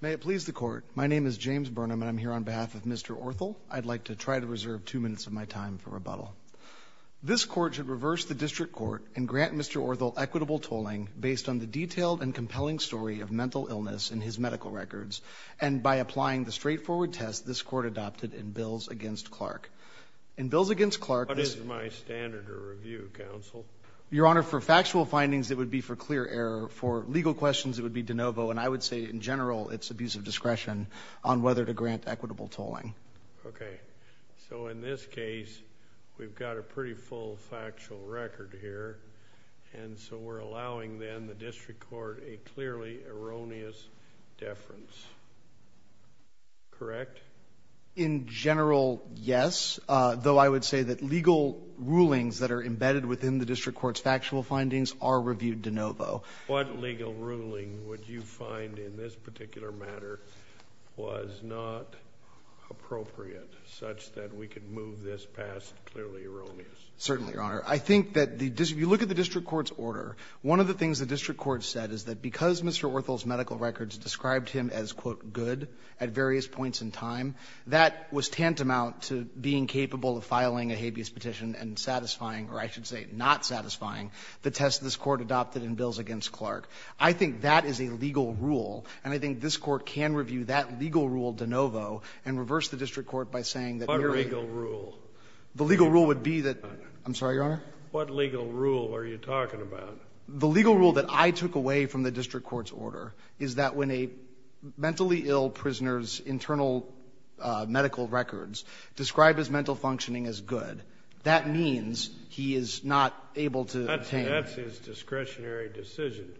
May it please the Court, my name is James Burnham and I'm here on behalf of Mr. Orthel. I'd like to try to reserve two minutes of my time for rebuttal. This Court should reverse the District Court and grant Mr. Orthel equitable tolling based on the detailed and compelling story of mental illness in his medical records and by applying the straightforward test this Court adopted in bills against Clark. In bills against Clark... What is my standard of review, Counsel? Your Honor, for factual findings it would be for clear error. For legal questions it would be de novo. And I would say in general it's abuse of discretion on whether to grant equitable tolling. Okay. So in this case we've got a pretty full factual record here and so we're allowing then the District Court a clearly erroneous deference. Correct? In general, yes, though I would say that legal rulings that are embedded within the District Court's factual findings are reviewed de novo. What legal ruling would you find in this particular matter was not appropriate such that we could move this past clearly erroneous? Certainly, Your Honor. I think that the — if you look at the District Court's order, one of the things the District Court said is that because Mr. Orthel's medical records described him as, quote, good at various points in time, that was tantamount to being capable of filing a habeas petition and satisfying — or I should say not satisfying the test this Court adopted in bills against Clark. I think that is a legal rule, and I think this Court can review that legal rule de novo and reverse the District Court by saying that merely — What legal rule? The legal rule would be that — I'm sorry, Your Honor? What legal rule are you talking about? The legal rule that I took away from the District Court's order is that when a mentally ill prisoner's internal medical records describe his mental functioning as good, that means he is not able to obtain — That's his discretionary decision.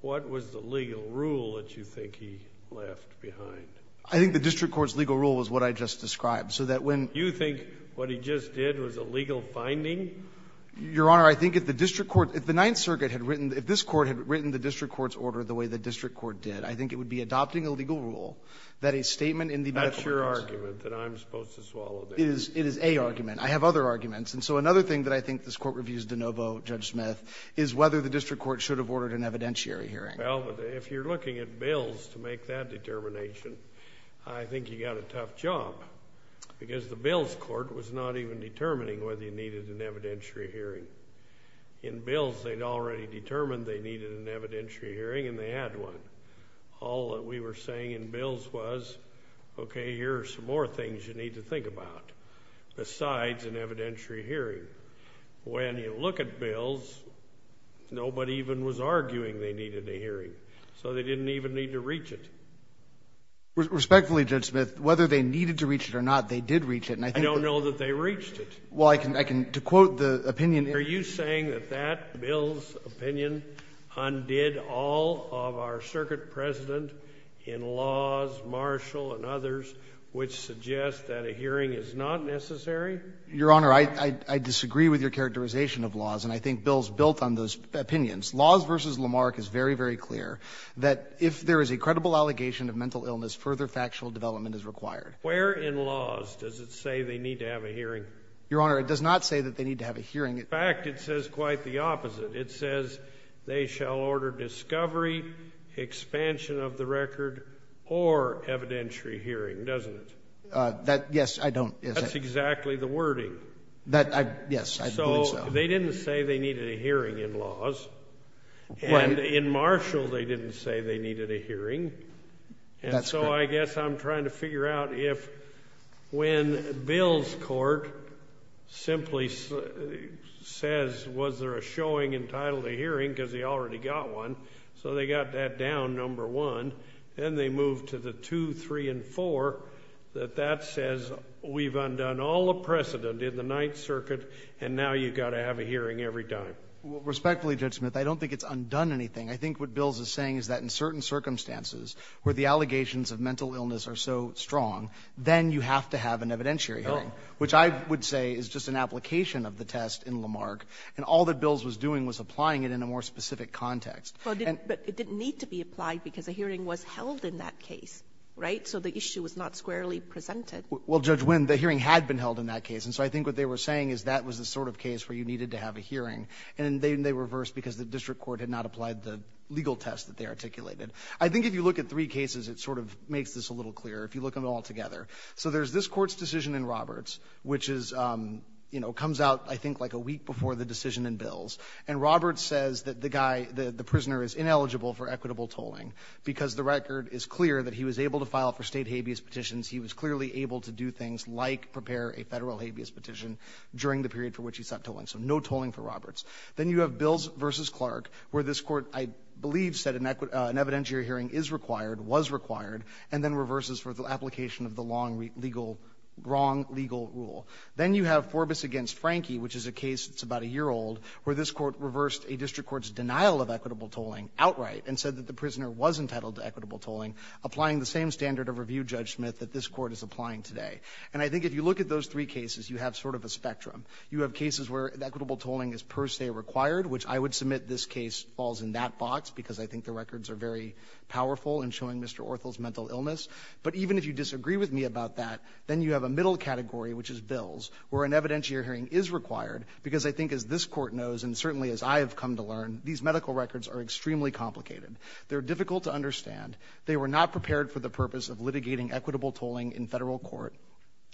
What was the legal rule that you think he left behind? I think the District Court's legal rule was what I just described. So that when — You think what he just did was a legal finding? Your Honor, I think if the District Court — if the Ninth Circuit had written — if this Court had written the District Court's order the way the District Court did, I think it would be adopting a legal rule that a statement in the medical records — That's your argument, that I'm supposed to swallow that. It is a argument. I have other arguments. And so another thing that I think this Court reviews de novo, Judge Smith, is whether the District Court should have ordered an evidentiary hearing. Well, if you're looking at bills to make that determination, I think you got a tough job, because the bills court was not even determining whether you needed an evidentiary hearing. In bills, they'd already determined they needed an evidentiary hearing, and they had one. All that we were saying in bills was, okay, here are some more things you need to think about. Besides an evidentiary hearing. When you look at bills, nobody even was arguing they needed a hearing. So they didn't even need to reach it. Respectfully, Judge Smith, whether they needed to reach it or not, they did reach it. And I think — I don't know that they reached it. Well, I can — to quote the opinion — Are you saying that that bill's opinion undid all of our circuit precedent in laws, Marshall and others, which suggest that a hearing is not necessary? Your Honor, I disagree with your characterization of laws, and I think Bill's built on those opinions. Laws v. Lamarck is very, very clear that if there is a credible allegation of mental illness, further factual development is required. Where in laws does it say they need to have a hearing? Your Honor, it does not say that they need to have a hearing. In fact, it says quite the opposite. It says they shall order discovery, expansion of the record, or evidentiary hearing, doesn't it? That — yes, I don't — That's exactly the wording. That — yes, I believe so. So they didn't say they needed a hearing in laws. And in Marshall, they didn't say they needed a hearing. That's correct. And so I guess I'm trying to figure out if when Bill's court simply says, was there a showing entitled to hearing, because he already got one, so they got that down, number one, then they moved to the two, three, and four, that that says we've undone all the precedent in the Ninth Circuit, and now you've got to have a hearing every time. Respectfully, Judge Smith, I don't think it's undone anything. I think what Bill is saying is that in certain circumstances where the allegations of mental illness are so strong, then you have to have an evidentiary hearing, which I would say is just an application of the test in Lamarck, and all that Bill's was doing was applying it in a more specific context. But it didn't need to be applied because a hearing was held in that case, right? So the issue was not squarely presented. Well, Judge Wynn, the hearing had been held in that case. And so I think what they were saying is that was the sort of case where you needed to have a hearing. And then they reversed because the district court had not applied the legal test that they articulated. I think if you look at three cases, it sort of makes this a little clearer, if you look them all together. So there's this Court's decision in Roberts, which is, you know, comes out, I think, like a week before the decision in Bills. And Roberts says that the guy, the prisoner is ineligible for equitable tolling because the record is clear that he was able to file for State habeas petitions. He was clearly able to do things like prepare a Federal habeas petition during the period for which he sought tolling. So no tolling for Roberts. Then you have Bills v. Clark, where this Court, I believe, said an evidentiary wrong legal rule. Then you have Forbus v. Frankie, which is a case that's about a year old, where this Court reversed a district court's denial of equitable tolling outright and said that the prisoner was entitled to equitable tolling, applying the same standard of review, Judge Smith, that this Court is applying today. And I think if you look at those three cases, you have sort of a spectrum. You have cases where equitable tolling is per se required, which I would submit this case falls in that box because I think the records are very powerful in showing Mr. Orthel's mental illness. But even if you disagree with me about that, then you have a middle category, which is Bills, where an evidentiary hearing is required, because I think as this Court knows, and certainly as I have come to learn, these medical records are extremely complicated. They're difficult to understand. They were not prepared for the purpose of litigating equitable tolling in Federal court.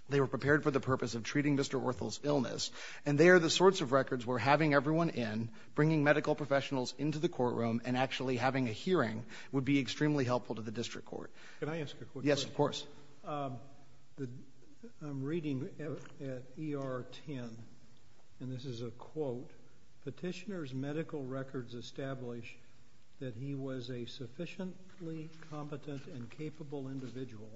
They were prepared for the purpose of treating Mr. Orthel's illness. And they are the sorts of records where having everyone in, bringing medical professionals into the courtroom, and actually having a hearing would be extremely helpful to the Court. Yes, of course. I'm reading at ER 10, and this is a quote, Petitioner's medical records establish that he was a sufficiently competent and capable individual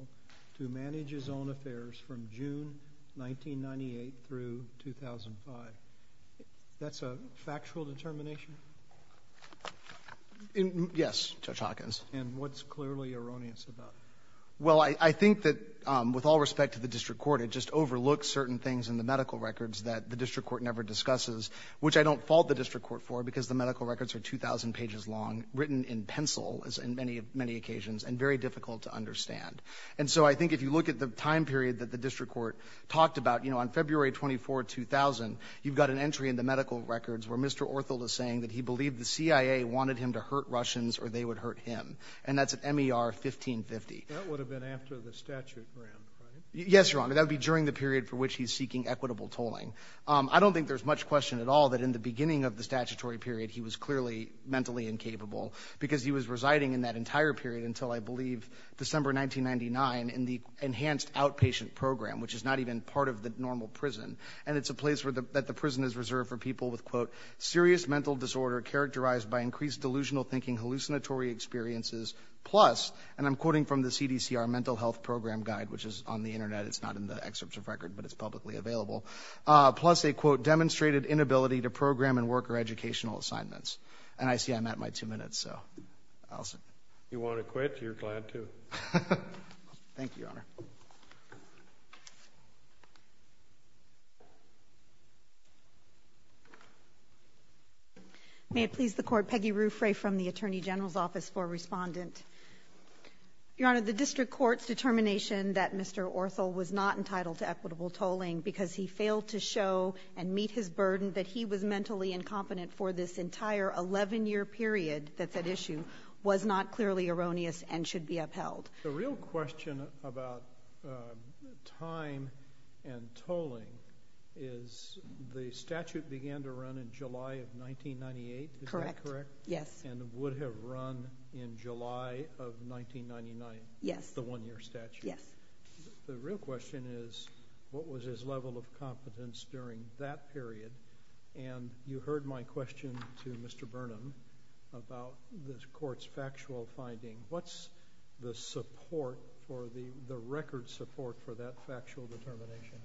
to manage his own affairs from June 1998 through 2005. That's a factual determination? Yes, Judge Hawkins. And what's clearly erroneous about it? Well, I think that with all respect to the district court, it just overlooks certain things in the medical records that the district court never discusses, which I don't fault the district court for, because the medical records are 2,000 pages long, written in pencil, as in many occasions, and very difficult to understand. And so I think if you look at the time period that the district court talked about, you know, on February 24, 2000, you've got an entry in the medical records where Mr. Orthold is saying that he believed the CIA wanted him to hurt Russians or they would hurt him. And that's at MER 1550. That would have been after the statute ran, right? Yes, Your Honor. That would be during the period for which he's seeking equitable tolling. I don't think there's much question at all that in the beginning of the statutory period, he was clearly mentally incapable, because he was residing in that entire period until, I believe, December 1999, in the Enhanced Outpatient Program, which is not even part of the normal prison. And it's a place that the prison is reserved for people with, quote, serious mental disorder characterized by increased delusional thinking, hallucinatory experiences, plus, and I'm quoting from the CDC, our mental health program guide, which is on the Internet. It's not in the excerpts of record, but it's publicly available. Plus, a, quote, demonstrated inability to program and work or educational assignments. And I see I'm at my two minutes, so. You want to quit? You're glad to. Thank you, Your Honor. May it please the Court. Peggy Ruffray from the Attorney General's Office for Respondent. Your Honor, the district court's determination that Mr. Orthel was not entitled to equitable tolling because he failed to show and meet his burden that he was mentally incompetent for this entire 11-year period that's at issue was not clearly erroneous and should be upheld. The real question about time and tolling is the statute began to run in July of 1998. Is that correct? Correct. Yes. And would have run in July of 1999. Yes. The one-year statute. Yes. The real question is what was his level of competence during that period? And you heard my question to Mr. Burnham about the court's factual finding. What's the support for the record support for that factual determination?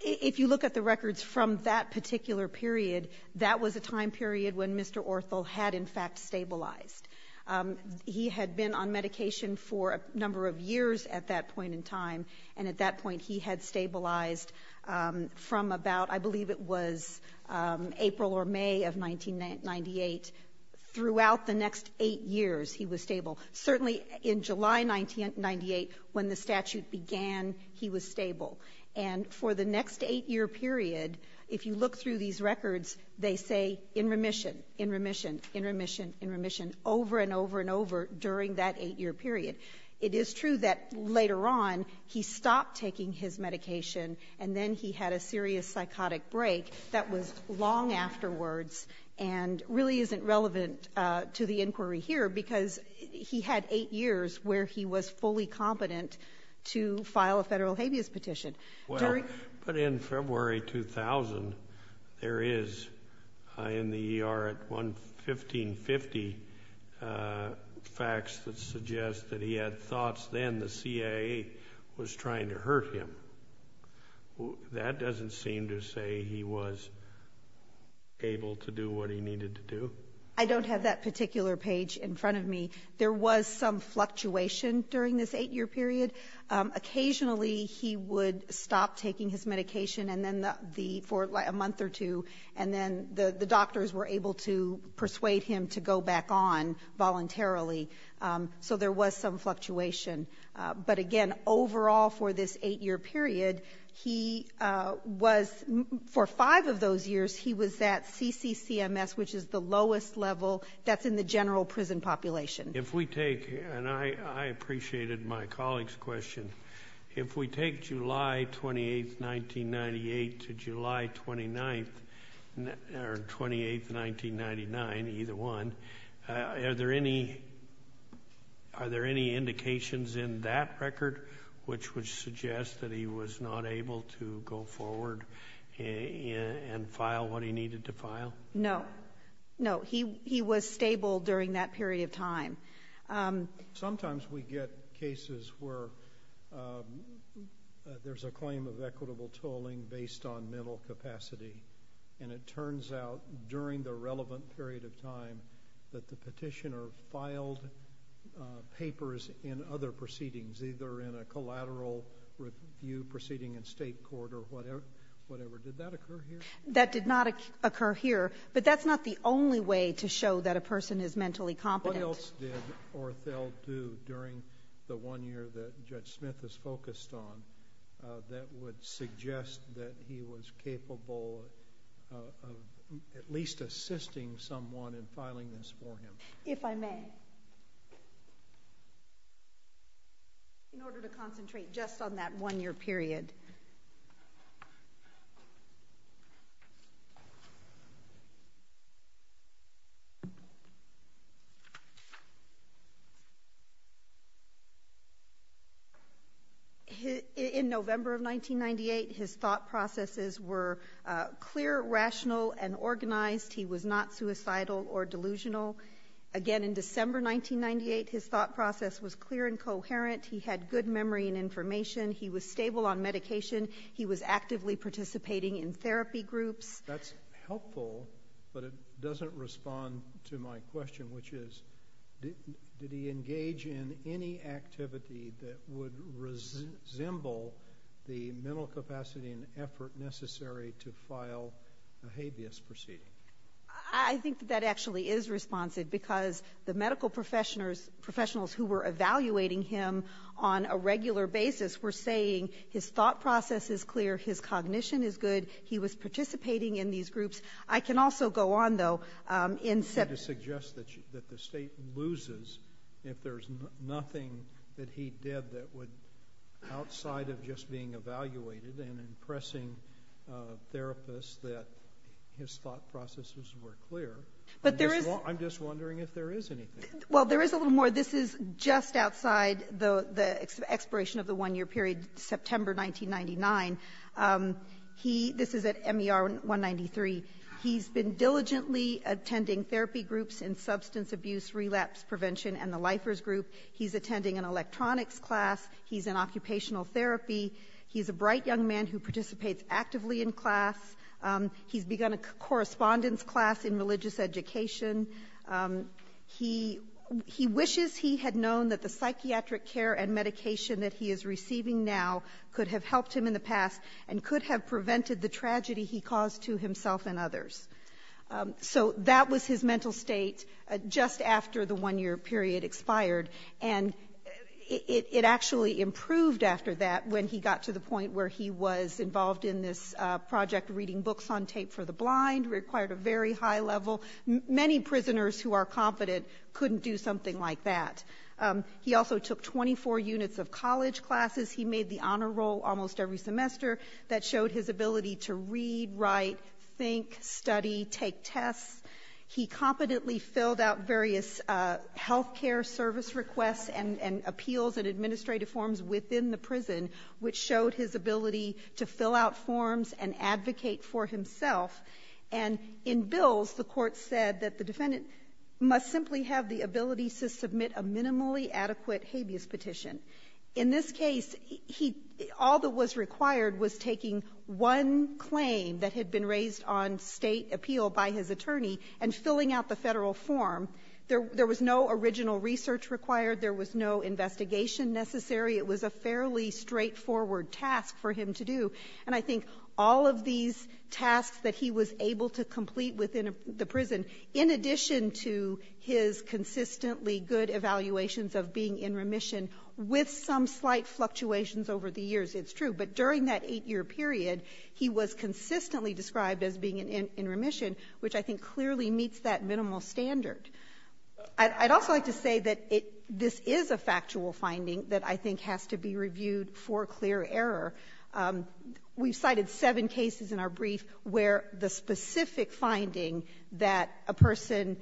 If you look at the records from that particular period, that was a time period when Mr. Orthel had, in fact, stabilized. He had been on medication for a number of years at that point in time, and at that point he had stabilized from about, I believe it was April or May of 1998. Throughout the next eight years he was stable. Certainly in July 1998, when the statute began, he was stable. And for the next eight-year period, if you look through these records, they say in remission, in remission, in remission, in remission, over and over and over during that eight-year period. It is true that later on he stopped taking his medication and then he had a serious psychotic break. That was long afterwards and really isn't relevant to the inquiry here, because he had eight years where he was fully competent to file a Federal habeas petition. During Well, but in February 2000, there is, in the ER at 11550, facts that suggest that he had thoughts then the CIA was trying to hurt him. That doesn't seem to say he was able to do what he needed to do. I don't have that particular page in front of me. There was some fluctuation during this eight-year period. Occasionally he would stop taking his medication for a month or two, and then the doctors were able to persuade him to go back on voluntarily. So there was some fluctuation. But, again, overall for this eight-year period, he was, for five of those years, he was at CCCMS, which is the lowest level that's in the general prison population. If we take, and I appreciated my colleague's question, if we take July 28, 1998, to record, which would suggest that he was not able to go forward and file what he needed to file? No. No. He was stable during that period of time. Sometimes we get cases where there's a claim of equitable tolling based on mental capacity, and it turns out during the relevant period of time that the petitioner filed papers in other proceedings, either in a collateral review proceeding in state court or whatever. Did that occur here? That did not occur here. But that's not the only way to show that a person is mentally competent. What else did Orthel do during the one year that Judge Smith is focused on that would suggest that he was capable of at least assisting someone in filing this for him? If I may. In order to concentrate just on that one year period. In November of 1998, his thought processes were clear, rational, and organized. He was not suicidal or delusional. Again, in December 1998, his thought process was clear and coherent. He had good memory and information. He was stable on medication. He was actively participating in therapy groups. That's helpful, but it doesn't respond to my question, which is, did he engage in any activity that would resemble the mental capacity and effort necessary to file a habeas causa proceeding? I think that actually is responsive, because the medical professionals who were evaluating him on a regular basis were saying his thought process is clear, his cognition is good, he was participating in these groups. I can also go on, though. I'm trying to suggest that the State loses if there's nothing that he did that would outside of just being evaluated and impressing therapists that his thought processes were clear. I'm just wondering if there is anything. Well, there is a little more. This is just outside the expiration of the one year period, September 1999. This is at MER 193. He's been diligently attending therapy groups in substance abuse, relapse prevention, and the lifers group. He's attending an electronics class. He's in occupational therapy. He's a bright young man who participates actively in class. He's begun a correspondence class in religious education. He wishes he had known that the psychiatric care and medication that he is receiving now could have helped him in the past and could have prevented the tragedy he caused to himself and others. So that was his mental state just after the one year period expired. And it actually improved after that when he got to the point where he was involved in this project reading books on tape for the blind. It required a very high level. Many prisoners who are competent couldn't do something like that. He also took 24 units of college classes. He made the honor roll almost every semester that showed his ability to read, write, think, study, take tests. He competently filled out various health care service requests and appeals and administrative forms within the prison, which showed his ability to fill out forms and advocate for himself. And in bills, the Court said that the defendant must simply have the ability to submit a minimally adequate habeas petition. In this case, he — all that was required was taking one claim that had been raised on State appeal by his attorney and filling out the Federal form. There was no original research required. There was no investigation necessary. It was a fairly straightforward task for him to do. And I think all of these tasks that he was able to complete within the prison, in addition to his consistently good evaluations of being in remission with some slight fluctuations over the years. It's true. But during that 8-year period, he was consistently described as being in remission, which I think clearly meets that minimal standard. I'd also like to say that this is a factual finding that I think has to be reviewed for clear error. We've cited seven cases in our brief where the specific finding that a person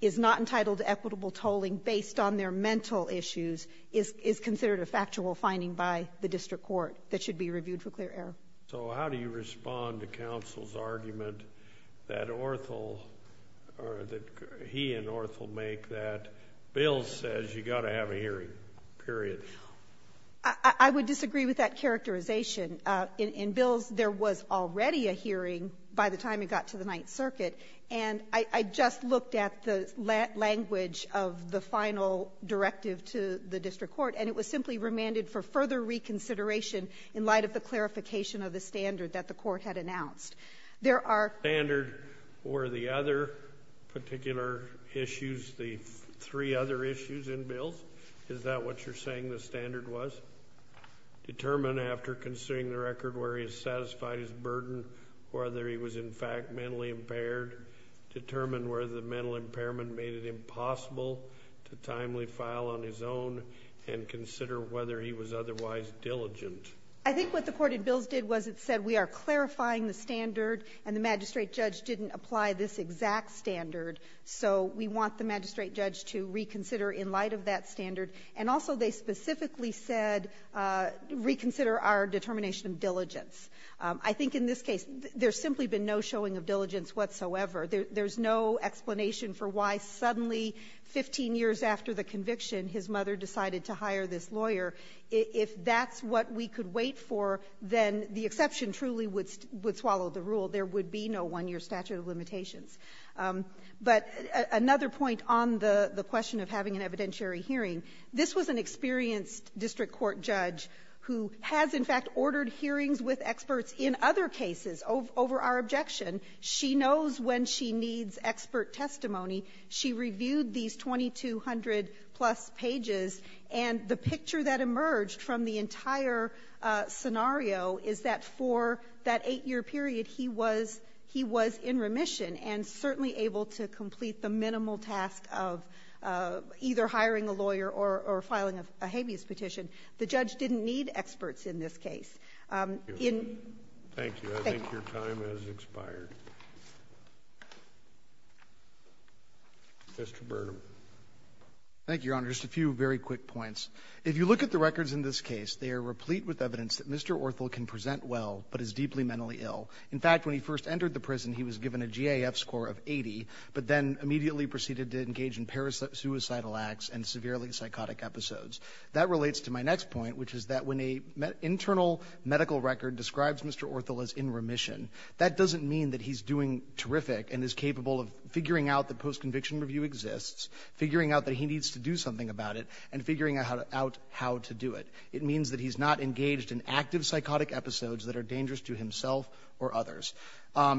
is not entitled to equitable tolling based on their mental issues is considered a factual finding by the district court that should be reviewed for clear error. So how do you respond to counsel's argument that Orthill or that he and Orthill make that Bill says you've got to have a hearing, period? I would disagree with that characterization. In Bill's, there was already a hearing by the time it got to the Ninth Circuit. And I just looked at the language of the final directive to the district court, and it was simply remanded for further reconsideration in light of the clarification of the standard that the court had announced. There are the other particular issues, the three other issues in Bill's. Is that what you're saying the standard was? Determine after considering the record where he has satisfied his burden whether he was in fact mentally impaired. Determine whether the mental impairment made it impossible to timely file on his own and consider whether he was otherwise diligent. I think what the court in Bill's did was it said we are clarifying the standard and the magistrate judge didn't apply this exact standard. So we want the magistrate judge to reconsider in light of that standard. And also they specifically said reconsider our determination of diligence. I think in this case there's simply been no showing of diligence whatsoever. There's no explanation for why suddenly 15 years after the conviction his mother decided to hire this lawyer. If that's what we could wait for, then the exception truly would swallow the rule. There would be no one-year statute of limitations. But another point on the question of having an evidentiary hearing, this was an experienced district court judge who has in fact ordered hearings with experts in other cases over our objection. She knows when she needs expert testimony. She reviewed these 2,200-plus pages. And the picture that emerged from the entire scenario is that for that 8-year period he was in remission. And certainly able to complete the minimal task of either hiring a lawyer or filing a habeas petition. The judge didn't need experts in this case. In ---- Thank you. I think your time has expired. Mr. Burnham. Thank you, Your Honor. Just a few very quick points. If you look at the records in this case, they are replete with evidence that Mr. Orthel can present well, but is deeply mentally ill. In fact, when he first entered the prison, he was given a GAF score of 80, but then immediately proceeded to engage in parasuicidal acts and severely psychotic episodes. That relates to my next point, which is that when an internal medical record describes Mr. Orthel as in remission, that doesn't mean that he's doing terrific and is capable of figuring out that postconviction review exists, figuring out that he needs to do something about it, and figuring out how to do it.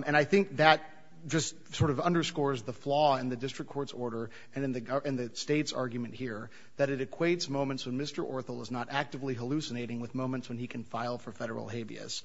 And I think that just sort of underscores the flaw in the district court's order and in the State's argument here, that it equates moments when Mr. Orthel is not actively hallucinating with moments when he can file for Federal habeas.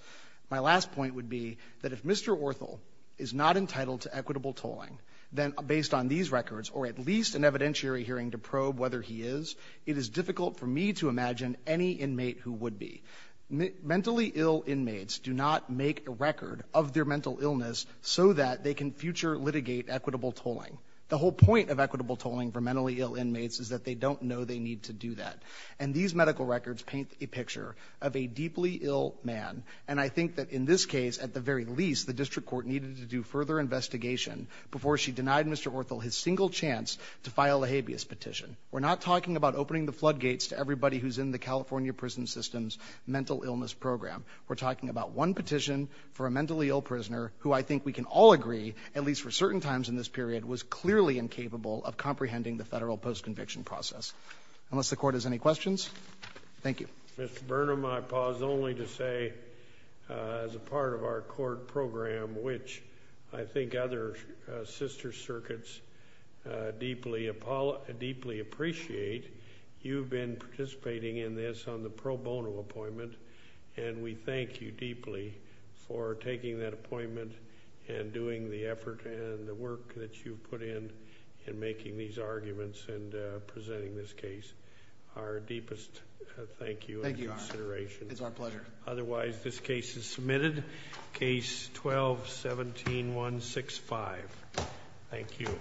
My last point would be that if Mr. Orthel is not entitled to equitable tolling, then based on these records, or at least an evidentiary hearing to probe whether he is, it is difficult for me to imagine any inmate who would be. Mentally ill inmates do not make a record of their mental illness so that they can future litigate equitable tolling. The whole point of equitable tolling for mentally ill inmates is that they don't know they need to do that. And these medical records paint a picture of a deeply ill man. And I think that in this case, at the very least, the district court needed to do further investigation before she denied Mr. Orthel his single chance to file a habeas petition. We're not talking about opening the floodgates to everybody who's in the California Prison System's mental illness program. We're talking about one petition for a mentally ill prisoner who I think we can all agree, at least for certain times in this period, was clearly incapable of comprehending the Federal post-conviction process. Unless the Court has any questions, thank you. Mr. Burnham, I pause only to say as a part of our court program, which I think other sister circuits deeply appreciate, you've been participating in this on the pro bono appointment, and we thank you deeply for taking that appointment and doing the effort and the work that you've put in in making these arguments and presenting this case. Our deepest thank you and consideration. Thank you, Your Honor. It's our pleasure. Otherwise, this case is submitted. Case 12-17165. Thank you.